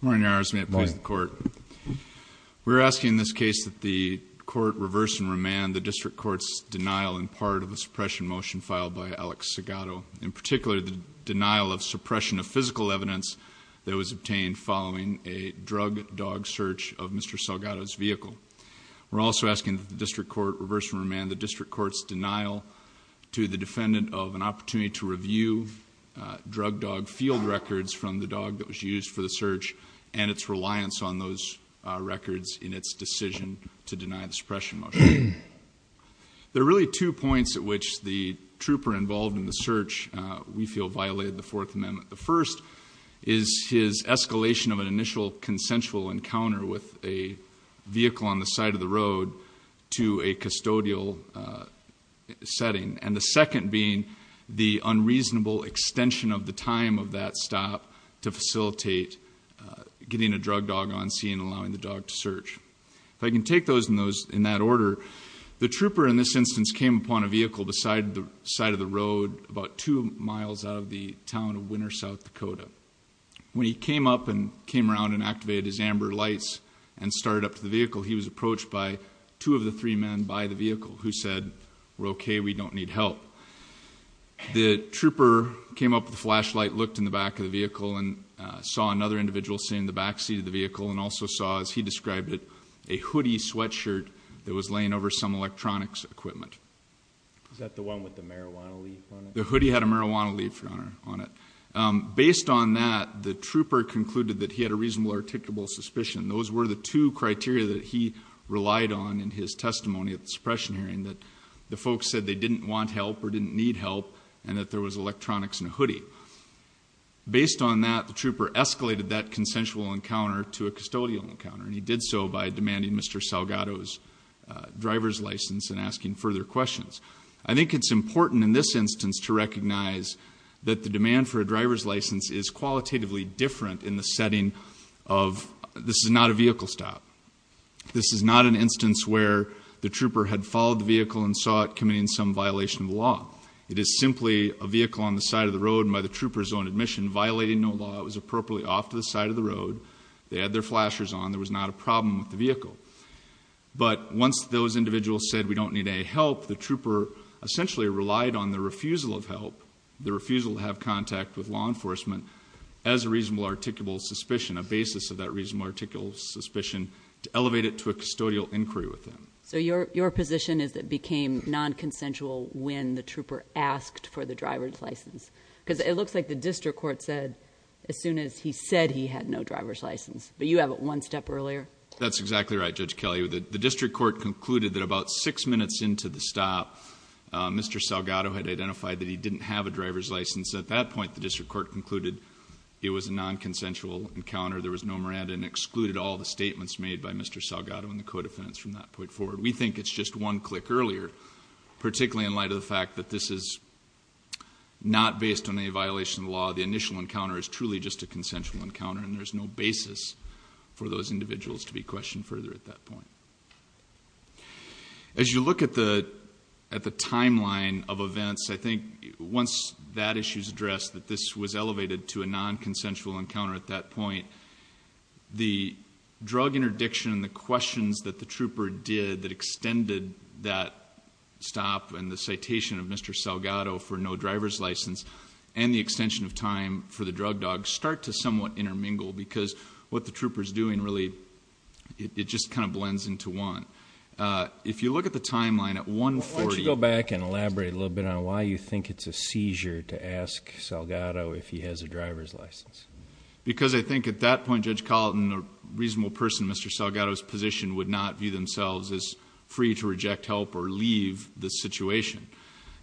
Morning, Your Honors. May it please the Court. We're asking in this case that the Court reverse and remand the District Court's denial in part of a suppression motion filed by Alex Salgado, in particular the denial of suppression of physical evidence that was obtained following a drug dog search of Mr. Salgado's vehicle. We're also asking that the District Court reverse and remand the District Court's denial to the defendant of an opportunity to review drug dog field records from the dog that was used for the search and its reliance on those records in its decision to deny the suppression motion. There are really two points at which the trooper involved in the search we feel violated the Fourth Amendment. The first is his escalation of an initial consensual encounter with a vehicle on the side of the road to a custodial setting, and the second being the unreasonable extension of the time of that stop to facilitate getting a drug dog on scene and allowing the dog to search. If I can take those in that order, the trooper in this instance came upon a vehicle beside the side of the road about two miles out of the town of Winter, South Dakota. When he came up and came around and activated his amber lights and started up to the vehicle, he was approached by two of the three men by the vehicle who said, we're okay, we don't need help. The trooper came up with a flashlight, looked in the back of the vehicle, and saw another individual sitting in the backseat of the vehicle, and also saw, as he described it, a hoodie sweatshirt that was laying over some electronics equipment. Is that the one with the marijuana leaf on it? The hoodie had a marijuana leaf on it. Based on that, the trooper concluded that he had a reasonable articulable suspicion. Those were the two criteria that he relied on in his testimony at the suppression hearing, that the folks said they didn't want help or didn't need help, and that there was electronics in a hoodie. Based on that, the trooper escalated that consensual encounter to a custodial encounter, and he did so by demanding Mr. Salgado's driver's license and asking further questions. I think it's important in this instance to recognize that the demand for a driver's license is qualitatively different in the setting of this is not a vehicle stop. This is not an instance where the trooper had followed the vehicle and saw it committing some violation of the law. It is simply a vehicle on the side of the road by the trooper's own admission, violating no law. It was appropriately off to the side of the road. They had their flashers on. There was not a problem with the vehicle. But once those individuals said we don't need any help, the trooper essentially relied on the refusal of help, the refusal to have contact with law enforcement, as a reasonable articulable suspicion, a basis of that reasonable articulable suspicion, to elevate it to a custodial inquiry with them. So your position is that it became non-consensual when the trooper asked for the driver's license? Because it looks like the district court said as soon as he said he had no driver's license, but you have it one step earlier. That's exactly right, Judge Kelley. The district court concluded that about six minutes into the stop, Mr. Salgado had identified that he didn't have a driver's license. At that point, the district court concluded it was a non-consensual encounter. There was no Miranda and excluded all the statements made by Mr. Salgado and the co-defendants from that point forward. We think it's just one click earlier, particularly in light of the fact that this is not based on any violation of the law. The initial encounter is truly just a consensual encounter, and there's no basis for those individuals to be questioned further at that point. As you look at the timeline of events, I think once that issue's addressed, that this was elevated to a non-consensual encounter at that point, the drug interdiction and the questions that the trooper did that extended that stop and the citation of Mr. Salgado for no driver's license and the extension of time for the drug dog start to somewhat intermingle, because what the trooper's doing really, it just kind of blends into one. If you look at the timeline at 140- Why don't you go back and elaborate a little bit on why you think it's a seizure to ask Salgado if he has a driver's license? Because I think at that point, Judge Colleton, a reasonable person in Mr. Salgado's position, would not view themselves as free to reject help or leave the situation.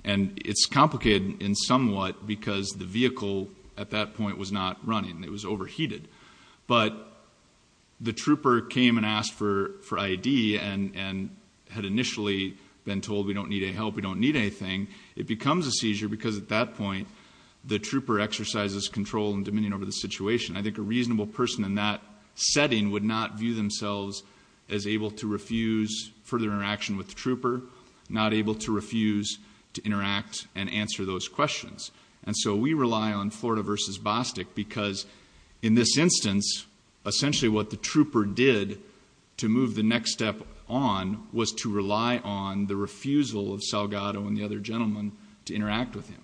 And it's complicated in somewhat, because the vehicle at that point was not running, it was overheated. But the trooper came and asked for ID and had initially been told we don't need any help, we don't need anything. It becomes a seizure because at that point, the trooper exercises control and dominion over the situation. I think a reasonable person in that setting would not view themselves as able to refuse further interaction with the trooper. Not able to refuse to interact and answer those questions. And so we rely on Florida versus Bostic, because in this instance, essentially what the trooper did to move the next step on was to rely on the refusal of Salgado and the other gentleman to interact with him.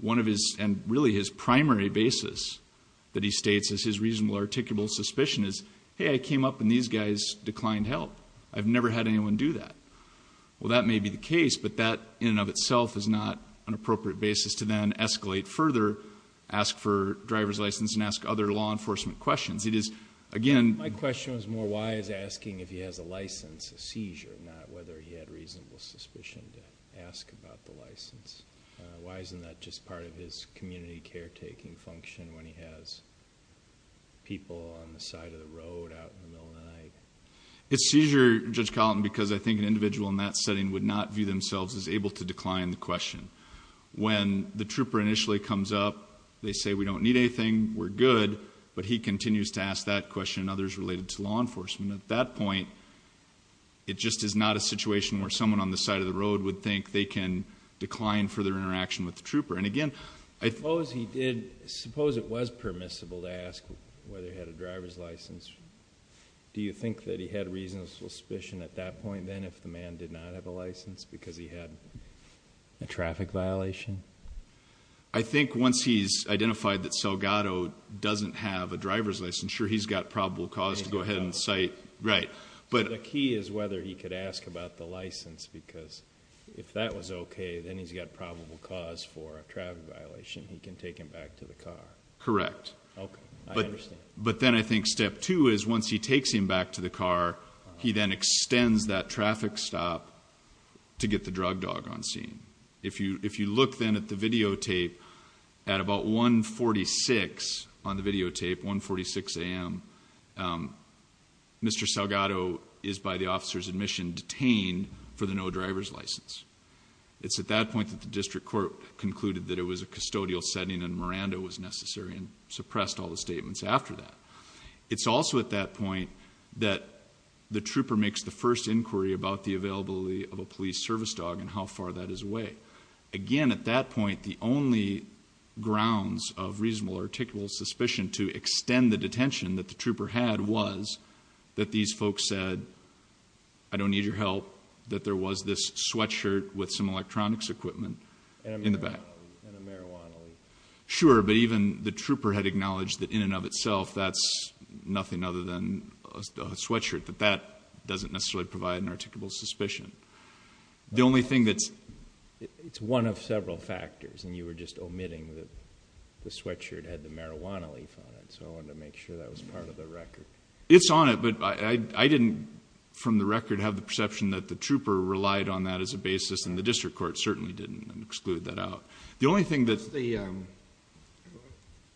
One of his, and really his primary basis that he states is his reasonable articulable suspicion is, hey, I came up and these guys declined help. I've never had anyone do that. Well, that may be the case, but that in and of itself is not an appropriate basis to then escalate further, ask for driver's license and ask other law enforcement questions. It is, again- My question was more why is asking if he has a license a seizure, not whether he had reasonable suspicion to ask about the license. Why isn't that just part of his community caretaking function when he has people on the side of the road out in the middle of the night? It's seizure, Judge Collin, because I think an individual in that setting would not view themselves as able to decline the question. When the trooper initially comes up, they say we don't need anything, we're good. But he continues to ask that question and others related to law enforcement. At that point, it just is not a situation where someone on the side of the road would think they can decline further interaction with the trooper. And again, I- Suppose he did, suppose it was permissible to ask whether he had a driver's license. Do you think that he had reasonable suspicion at that point then if the man did not have a license because he had a traffic violation? I think once he's identified that Salgado doesn't have a driver's licensure, he's got probable cause to go ahead and cite, right. But- The key is whether he could ask about the license because if that was okay, then he's got probable cause for a traffic violation, he can take him back to the car. Correct. Okay, I understand. But then I think step two is once he takes him back to the car, he then extends that traffic stop to get the drug dog on scene. If you look then at the videotape at about 1.46 on the videotape, 1.46 AM, Mr. Salgado is by the officer's admission detained for the no driver's license. It's at that point that the district court concluded that it was a custodial setting and Miranda was necessary and suppressed all the statements after that. It's also at that point that the trooper makes the first inquiry about the availability of a police service dog and how far that is away. Again, at that point, the only grounds of reasonable or articulable suspicion to extend the detention that the trooper had was that these folks said, I don't need your help, that there was this sweatshirt with some electronics equipment in the back. And a marijuana leaf. Sure, but even the trooper had acknowledged that in and of itself, that's nothing other than a sweatshirt. But that doesn't necessarily provide an articulable suspicion. The only thing that's- It's one of several factors, and you were just omitting that the sweatshirt had the marijuana leaf on it. So I wanted to make sure that was part of the record. It's on it, but I didn't, from the record, have the perception that the trooper relied on that as a basis. And the district court certainly didn't exclude that out. The only thing that-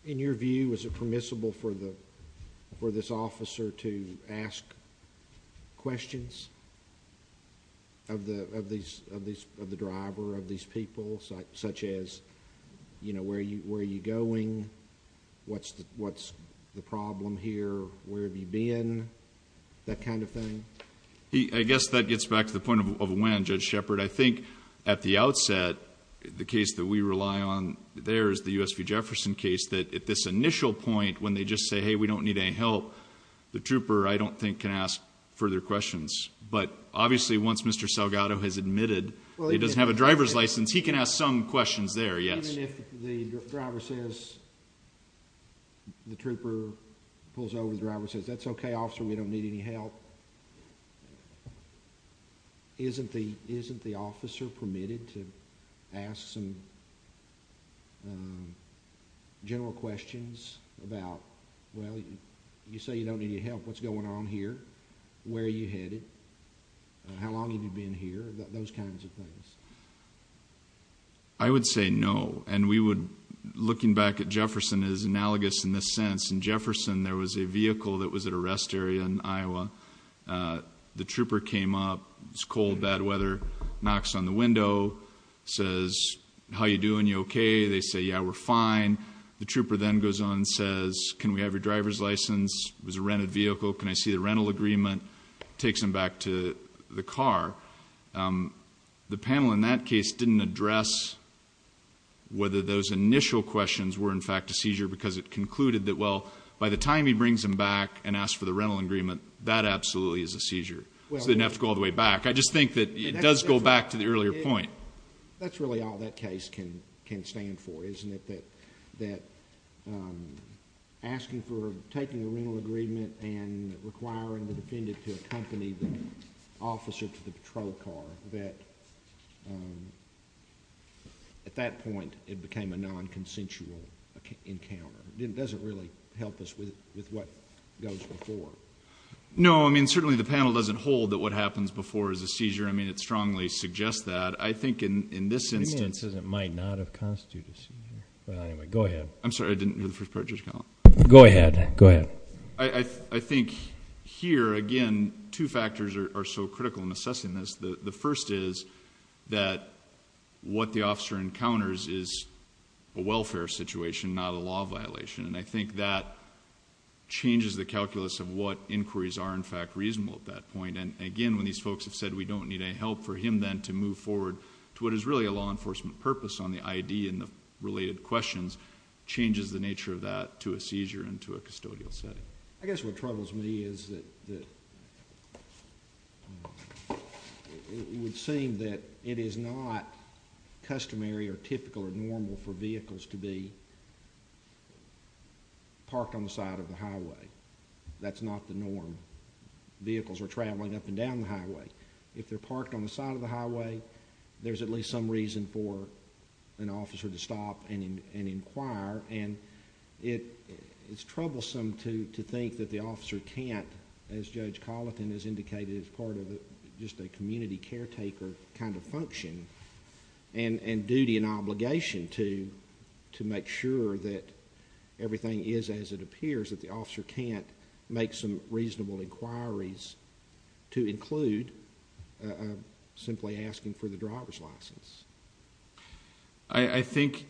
In your view, is it permissible for this officer to ask questions of the driver, of these people, such as, where are you going, what's the problem here, where have you been, that kind of thing? I guess that gets back to the point of when, Judge Shepard. I think at the outset, the case that we rely on there is the USV Jefferson case. That at this initial point, when they just say, hey, we don't need any help, the trooper, I don't think, can ask further questions. But obviously, once Mr. Salgado has admitted he doesn't have a driver's license, he can ask some questions there, yes. Even if the driver says, the trooper pulls over, the driver says, that's okay, officer, we don't need any help. Isn't the officer permitted to ask some general questions about, well, you say you don't need any help, what's going on here, where are you headed, how long have you been here, those kinds of things? I would say no. And we would, looking back at Jefferson, is analogous in this sense. In Jefferson, there was a vehicle that was at a rest area in Iowa. The trooper came up, it was cold, bad weather, knocks on the window, says, how you doing, you okay? They say, yeah, we're fine. The trooper then goes on and says, can we have your driver's license? It was a rented vehicle, can I see the rental agreement? Takes him back to the car. The panel in that case didn't address whether those initial questions were in fact a seizure, because it concluded that, well, by the time he brings him back and asks for the rental agreement, that absolutely is a seizure. So they didn't have to go all the way back. I just think that it does go back to the earlier point. That's really all that case can stand for, isn't it? That asking for, taking a rental agreement and requiring the defendant to accompany the officer to the patrol car, that at that point, it became a non-consensual encounter. It doesn't really help us with what goes before. No, I mean, certainly the panel doesn't hold that what happens before is a seizure. I mean, it strongly suggests that. I think in this instance... It might not have constituted a seizure, but anyway, go ahead. I'm sorry, I didn't hear the first part of your comment. Go ahead, go ahead. I think here, again, two factors are so critical in assessing this. The first is that what the officer encounters is a welfare situation, not a law violation. And I think that changes the calculus of what inquiries are, in fact, reasonable at that point. And again, when these folks have said we don't need any help for him then to move forward to what is really a law enforcement purpose on the ID and the related questions, changes the nature of that to a seizure and to a custodial setting. I guess what troubles me is that it would seem that it is not customary or typical or normal for vehicles to be parked on the side of the highway. That's not the norm. Vehicles are traveling up and down the highway. If they're parked on the side of the highway, there's at least some reason for an officer to stop and inquire. And it's troublesome to think that the officer can't, as Judge Colleton has indicated, is part of just a community caretaker kind of function and duty and obligation to make sure that everything is as it appears, that the officer can't make some reasonable inquiries to include simply asking for the driver's license. I think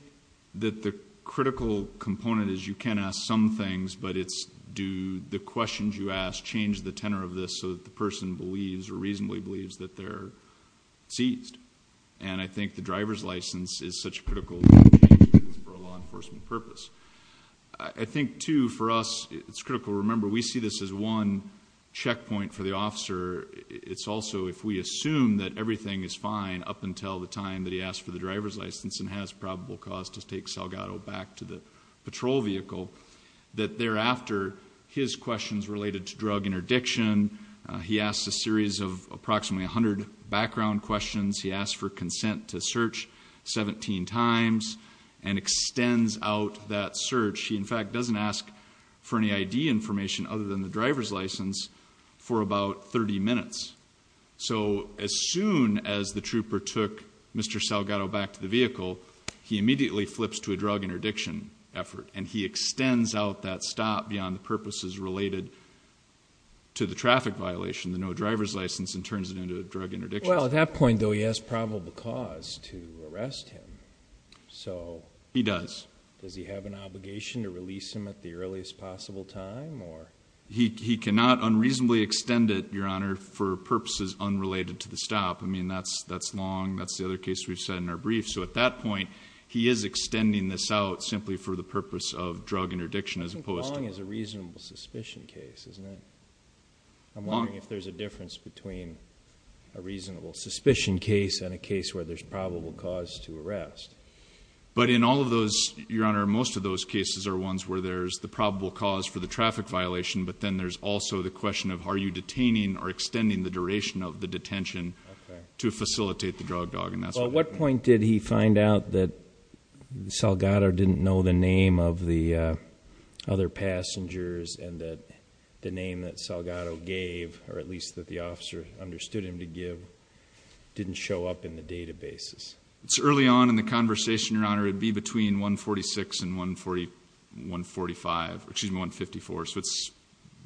that the critical component is you can ask some things, but it's do the questions you ask change the tenor of this so that the person believes or reasonably believes that they're seized. And I think the driver's license is such a critical for a law enforcement purpose. I think too, for us, it's critical. Remember, we see this as one checkpoint for the officer. It's also, if we assume that everything is fine up until the time that he asks for the driver's license and has probable cause to take Salgado back to the patrol vehicle. That thereafter, his questions related to drug interdiction, he asks a series of approximately 100 background questions. He asks for consent to search 17 times and extends out that search. He in fact doesn't ask for any ID information other than the driver's license for about 30 minutes. So as soon as the trooper took Mr. Salgado back to the vehicle, he immediately flips to a drug interdiction effort. And he extends out that stop beyond the purposes related to the traffic violation, the no driver's license, and turns it into a drug interdiction. Well, at that point, though, he has probable cause to arrest him, so- He does. Does he have an obligation to release him at the earliest possible time, or? He cannot unreasonably extend it, Your Honor, for purposes unrelated to the stop. I mean, that's long, that's the other case we've said in our brief. So at that point, he is extending this out simply for the purpose of drug interdiction as opposed to- I think long is a reasonable suspicion case, isn't it? I'm wondering if there's a difference between a reasonable suspicion case and a case where there's probable cause to arrest. But in all of those, Your Honor, most of those cases are ones where there's the probable cause for the traffic violation. But then there's also the question of, are you detaining or extending the duration of the detention to facilitate the drug dogging? That's what- Well, at what point did he find out that Salgado didn't know the name of the other passengers and that the name that Salgado gave, or at least that the officer understood him to give, didn't show up in the databases? It's early on in the conversation, Your Honor. It'd be between 146 and 145, excuse me, 154, so it's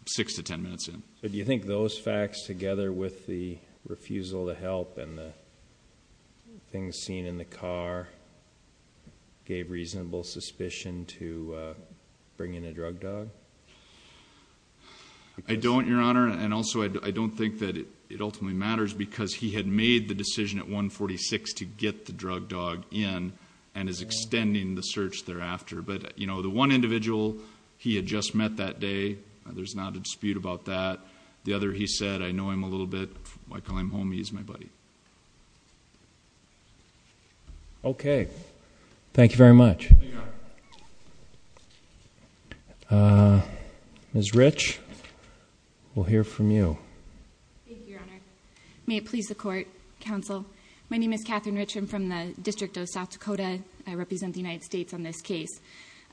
six to ten minutes in. Do you think those facts together with the refusal to help and the things seen in the car gave reasonable suspicion to bring in a drug dog? I don't, Your Honor, and also I don't think that it ultimately matters because he had made the decision at 146 to get the drug dog in. And is extending the search thereafter. But the one individual he had just met that day, there's not a dispute about that. The other, he said, I know him a little bit, I call him homie, he's my buddy. Okay, thank you very much. Ms. Rich, we'll hear from you. Thank you, Your Honor. May it please the court, counsel. My name is Catherine Rich, I'm from the District of South Dakota. I represent the United States on this case.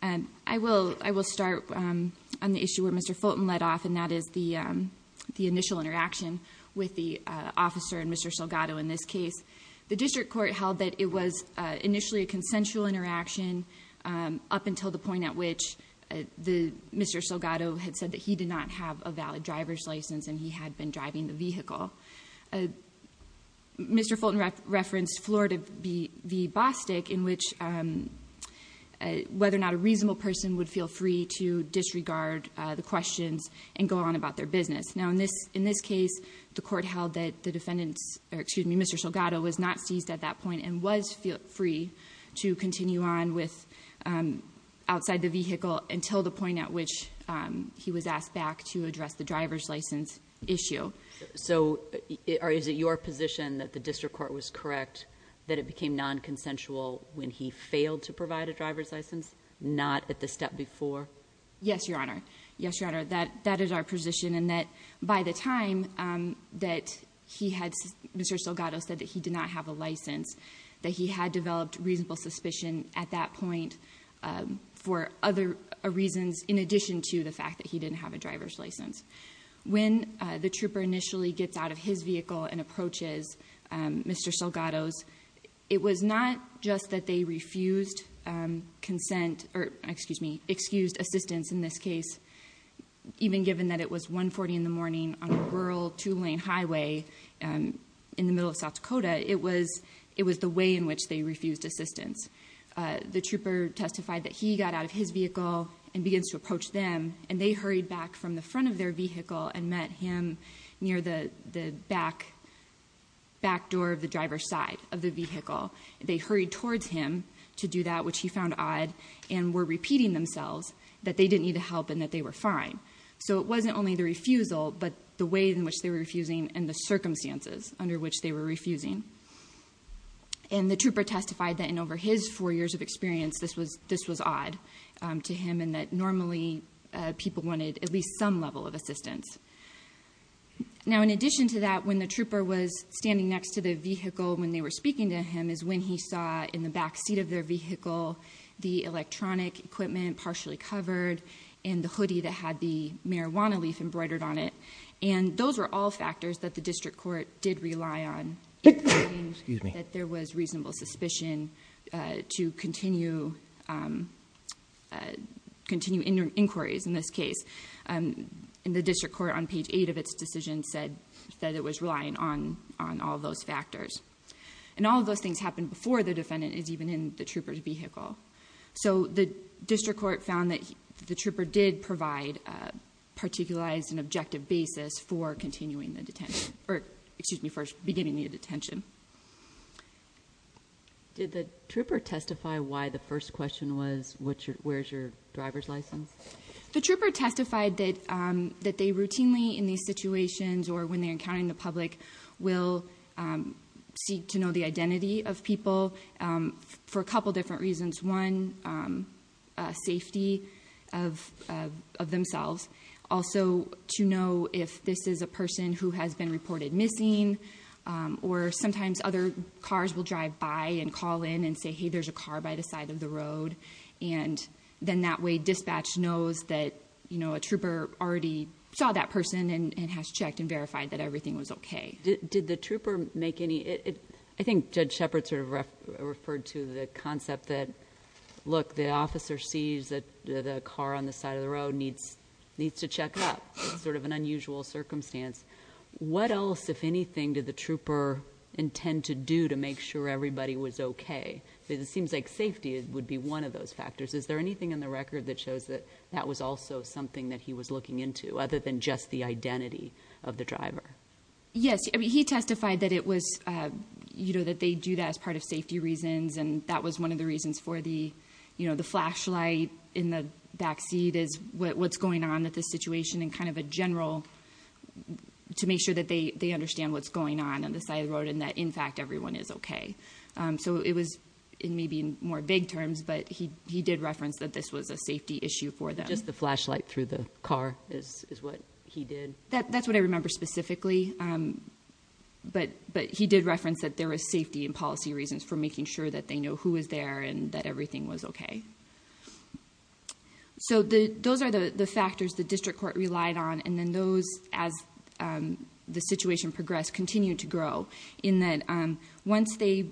I will start on the issue where Mr. Fulton led off, and that is the initial interaction with the officer and Mr. Salgado in this case. The district court held that it was initially a consensual interaction up until the point at which Mr. Salgado had said that he did not have a valid driver's license and he had been driving the vehicle. Mr. Fulton referenced Florida v. Bostic in which whether or not a reasonable person would feel free to disregard the questions and go on about their business. Now in this case, the court held that the defendant's, or excuse me, Mr. Salgado was not seized at that point and was free to continue on with outside the vehicle until the point at which he was asked back to address the driver's license issue. So, is it your position that the district court was correct that it became non-consensual when he failed to provide a driver's license, not at the step before? Yes, Your Honor. Yes, Your Honor, that is our position, and that by the time that he had, Mr. Salgado said that he did not have a license, that he had developed reasonable suspicion at that point for other reasons in addition to the fact that he didn't have a driver's license. When the trooper initially gets out of his vehicle and approaches Mr. Salgado's, it was not just that they refused consent, or excused assistance in this case, even given that it was 140 in the morning on a rural, two-lane highway in the middle of South Dakota, it was the way in which they refused assistance. The trooper testified that he got out of his vehicle and begins to approach them, and they hurried back from the front of their vehicle and met him near the back door of the driver's side of the vehicle. They hurried towards him to do that, which he found odd, and were repeating themselves that they didn't need the help and that they were fine. So it wasn't only the refusal, but the way in which they were refusing and the circumstances under which they were refusing. And the trooper testified that in over his four years of experience, this was odd to him, and that normally people wanted at least some level of assistance. Now in addition to that, when the trooper was standing next to the vehicle when they were speaking to him, is when he saw in the back seat of their vehicle, the electronic equipment partially covered, and the hoodie that had the marijuana leaf embroidered on it. And those were all factors that the district court did rely on. Including that there was reasonable suspicion to continue inquiries in this case. And the district court on page eight of its decision said that it was relying on all of those factors. And all of those things happened before the defendant is even in the trooper's vehicle. So the district court found that the trooper did provide a particularized and objective basis for continuing the detention, or excuse me, for beginning the detention. Did the trooper testify why the first question was, where's your driver's license? The trooper testified that they routinely, in these situations, or when they're encountering the public, will seek to know the identity of people for a couple different reasons. One, safety of themselves. Also, to know if this is a person who has been reported missing, or sometimes other cars will drive by and call in and say, hey, there's a car by the side of the road. And then that way, dispatch knows that a trooper already saw that person and has checked and verified that everything was okay. Did the trooper make any, I think Judge Shepard sort of referred to the concept that, look, the officer sees that the car on the side of the road needs to check up. It's sort of an unusual circumstance. What else, if anything, did the trooper intend to do to make sure everybody was okay? It seems like safety would be one of those factors. Is there anything in the record that shows that that was also something that he was looking into, other than just the identity of the driver? Yes, he testified that it was, that they do that as part of safety reasons. And that was one of the reasons for the flashlight in the backseat is what's going on with this situation. And kind of a general, to make sure that they understand what's going on on the side of the road and that, in fact, everyone is okay. So it was, it may be in more vague terms, but he did reference that this was a safety issue for them. Just the flashlight through the car is what he did? That's what I remember specifically. But he did reference that there was safety and policy reasons for making sure that they know who was there and that everything was okay. So those are the factors the district court relied on. And then those, as the situation progressed, continued to grow. In that once they,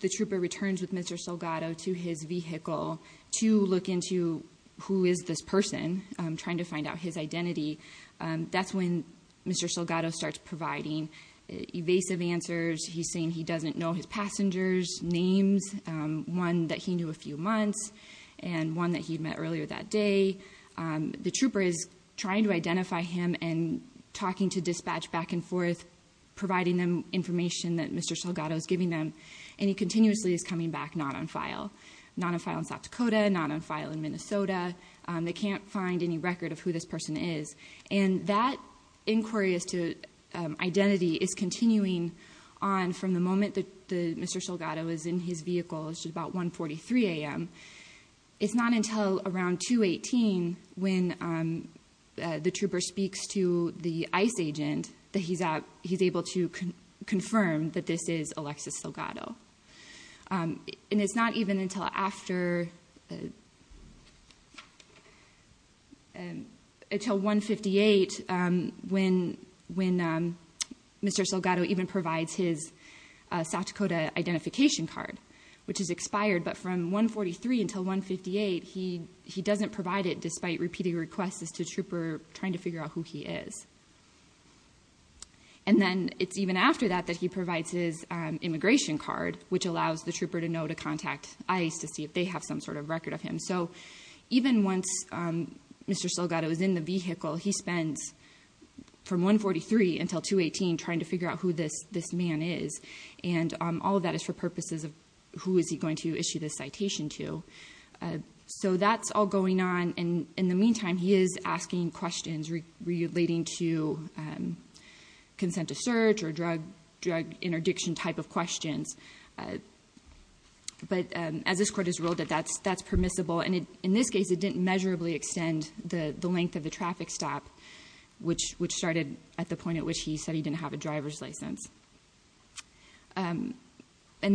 the trooper returns with Mr. Salgado to his vehicle to look into who is this person, trying to find out his identity. That's when Mr. Salgado starts providing evasive answers. He's saying he doesn't know his passengers' names, one that he knew a few months and one that he met earlier that day. The trooper is trying to identify him and talking to dispatch back and forth, providing them information that Mr. Salgado is giving them. And he continuously is coming back not on file. Not on file in South Dakota, not on file in Minnesota. They can't find any record of who this person is. And that inquiry as to identity is continuing on from the moment that Mr. Salgado is in his vehicle, which is about 1.43 AM. It's not until around 2.18 when the trooper speaks to the ICE agent that he's able to confirm that this is Alexis Salgado. And it's not even until after, until 1.58 when Mr. Salgado even provides his South Dakota identification card, which is expired. But from 1.43 until 1.58, he doesn't provide it despite repeating requests as to trooper trying to figure out who he is. And then it's even after that that he provides his immigration card, which allows the trooper to know to contact ICE to see if they have some sort of record of him. So even once Mr. Salgado is in the vehicle, he spends from 1.43 until 2.18 trying to figure out who this man is. And all of that is for purposes of who is he going to issue this citation to. So that's all going on. In the meantime, he is asking questions relating to consent to search or drug interdiction type of questions. But as this court has ruled it, that's permissible. And in this case, it didn't measurably extend the length of the traffic stop, which started at the point at which he said he didn't have a driver's license. And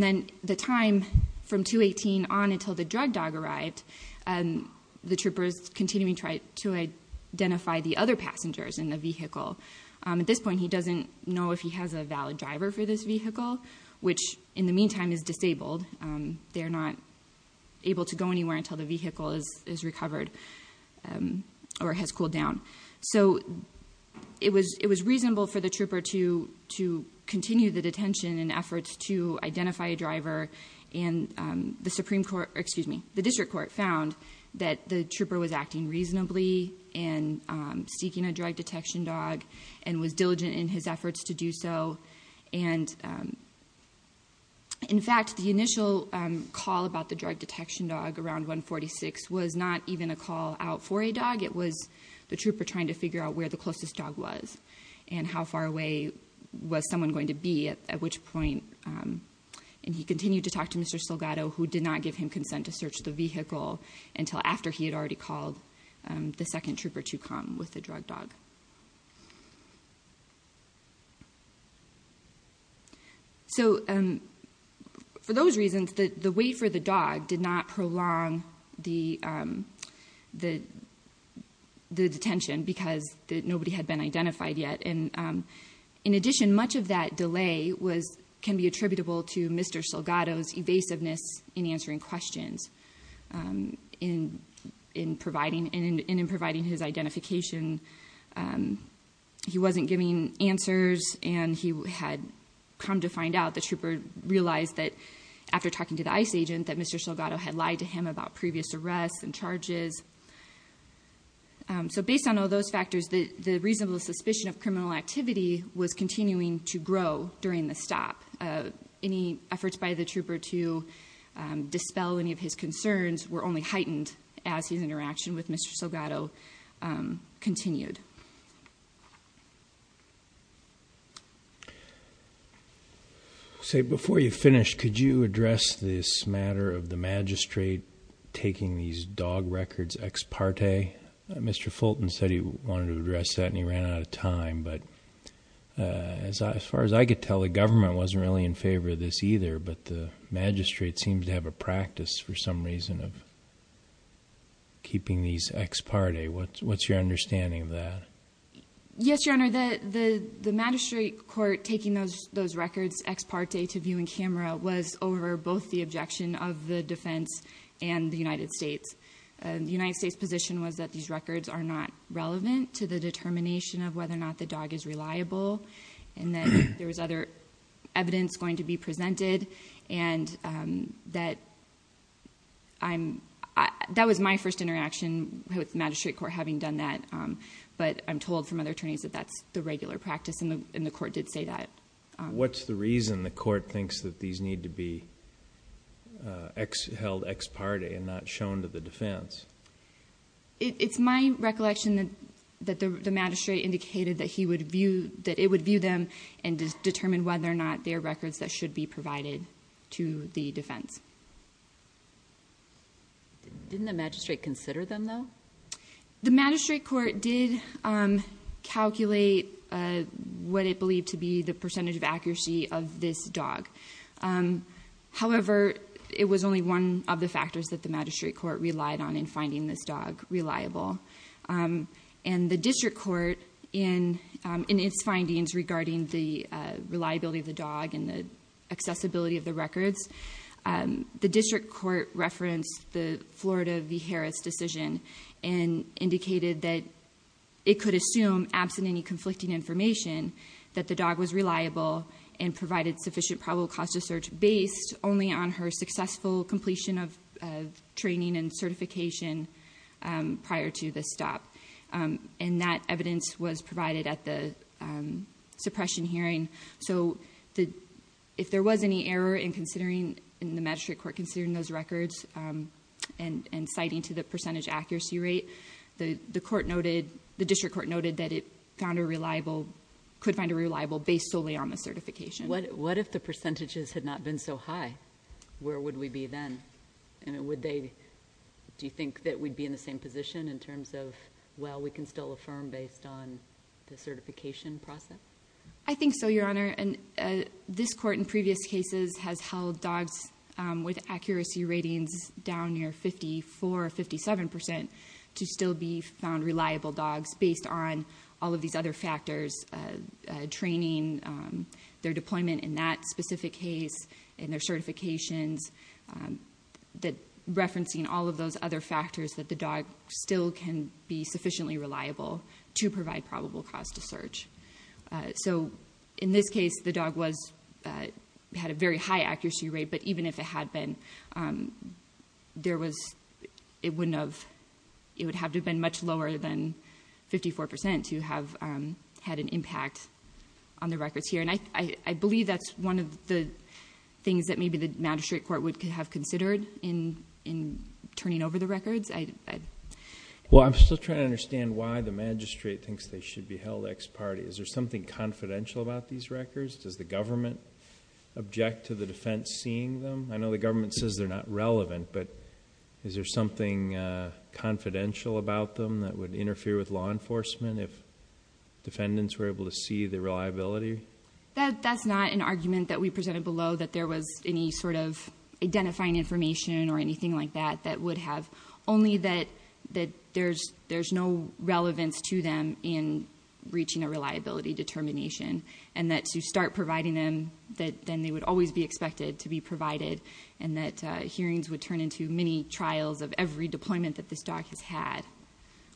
then the time from 2.18 on until the drug dog arrived, the troopers continuing to try to identify the other passengers in the vehicle. At this point, he doesn't know if he has a valid driver for this vehicle, which in the meantime is disabled. They're not able to go anywhere until the vehicle is recovered or has cooled down. So it was reasonable for the trooper to continue the detention in order to identify a driver and the district court found that the trooper was acting reasonably in seeking a drug detection dog and was diligent in his efforts to do so. And in fact, the initial call about the drug detection dog around 146 was not even a call out for a dog. It was the trooper trying to figure out where the closest dog was and how far away was someone going to be, at which point, and he continued to talk to Mr. Salgado, who did not give him consent to search the vehicle until after he had already called the second trooper to come with the drug dog. So for those reasons, the wait for the dog did not prolong the detention because nobody had been identified yet. And in addition, much of that delay can be attributable to Mr. Salgado's evasiveness in answering questions and in providing his identification. He wasn't giving answers and he had come to find out, the trooper realized that after talking to the ICE agent that Mr. Salgado had lied to him about previous arrests and charges. So based on all those factors, the reasonable suspicion of criminal activity was continuing to grow during the stop. Any efforts by the trooper to dispel any of his concerns were only heightened as his interaction with Mr. Salgado continued. So before you finish, could you address this matter of the magistrate taking these dog records ex parte? Mr. Fulton said he wanted to address that and he ran out of time, but as far as I could tell, the government wasn't really in favor of this either, but the magistrate seems to have a practice for some reason of keeping these ex parte. What's your understanding of that? Yes, your honor, the magistrate court taking those records ex parte to view in camera was over both the objection of the defense and the United States. The United States position was that these records are not relevant to the determination of whether or not the dog is reliable, and that there was other evidence going to be presented. And that was my first interaction with the magistrate court having done that. But I'm told from other attorneys that that's the regular practice and the court did say that. What's the reason the court thinks that these need to be held ex parte and not shown to the defense? It's my recollection that the magistrate indicated that it would view them and determine whether or not their records that should be provided to the defense. Didn't the magistrate consider them though? The magistrate court did calculate what it believed to be the percentage of accuracy of this dog. However, it was only one of the factors that the magistrate court relied on in finding this dog reliable. And the district court in its findings regarding the reliability of the dog and the accessibility of the records, the district court referenced the Florida v. Harris decision and indicated that it could assume, absent any conflicting information, that the dog was reliable and provided sufficient probable cause to search based only on her successful completion of training and certification prior to the stop, and that evidence was provided at the suppression hearing. So if there was any error in the magistrate court considering those records and citing to the percentage accuracy rate, the district court noted that it found a reliable, could find a reliable based solely on the certification. What if the percentages had not been so high? Where would we be then? And would they, do you think that we'd be in the same position in terms of, well, we can still affirm based on the certification process? I think so, your honor. And this court in previous cases has held dogs with accuracy ratings down near 54 or 57% to still be found reliable dogs based on all of these other factors. Training, their deployment in that specific case, and their certifications. Referencing all of those other factors that the dog still can be sufficiently reliable to provide probable cause to search. So in this case, the dog had a very high accuracy rate, but even if it had been, it would have to have been much lower than 54% to have had an impact on the records here. And I believe that's one of the things that maybe the magistrate court would have considered in turning over the records. Well, I'm still trying to understand why the magistrate thinks they should be held ex parte. Is there something confidential about these records? Does the government object to the defense seeing them? I know the government says they're not relevant, but is there something confidential about them that would interfere with law enforcement if defendants were able to see the reliability? That's not an argument that we presented below that there was any sort of identifying information or anything like that that would have, only that there's no relevance to them in reaching a reliability determination. And that to start providing them, then they would always be expected to be provided. And that hearings would turn into many trials of every deployment that this dog has had.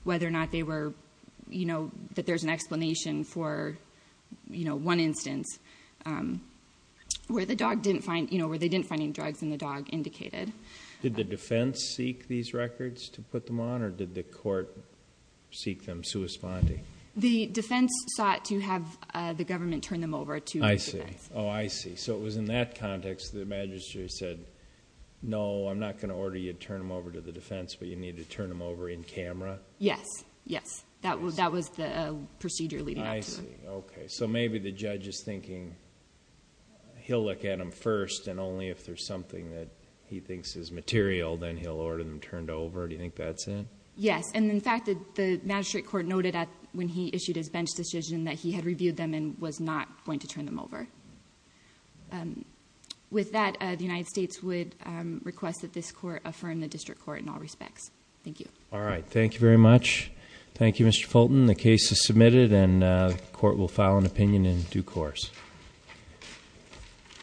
Whether or not they were, that there's an explanation for one instance where they didn't find any drugs and the dog indicated. Did the defense seek these records to put them on, or did the court seek them sui sponte? The defense sought to have the government turn them over to- I see, I see, so it was in that context that the magistrate said, no, I'm not going to order you to turn them over to the defense, but you need to turn them over in camera? Yes, yes, that was the procedure leading up to it. I see, okay, so maybe the judge is thinking he'll look at them first, and only if there's something that he thinks is material, then he'll order them turned over. Do you think that's it? Yes, and in fact, the magistrate court noted when he issued his bench decision that he had reviewed them and was not going to turn them over. With that, the United States would request that this court affirm the district court in all respects. Thank you. All right, thank you very much. Thank you, Mr. Fulton. The case is submitted, and the court will file an opinion in due course.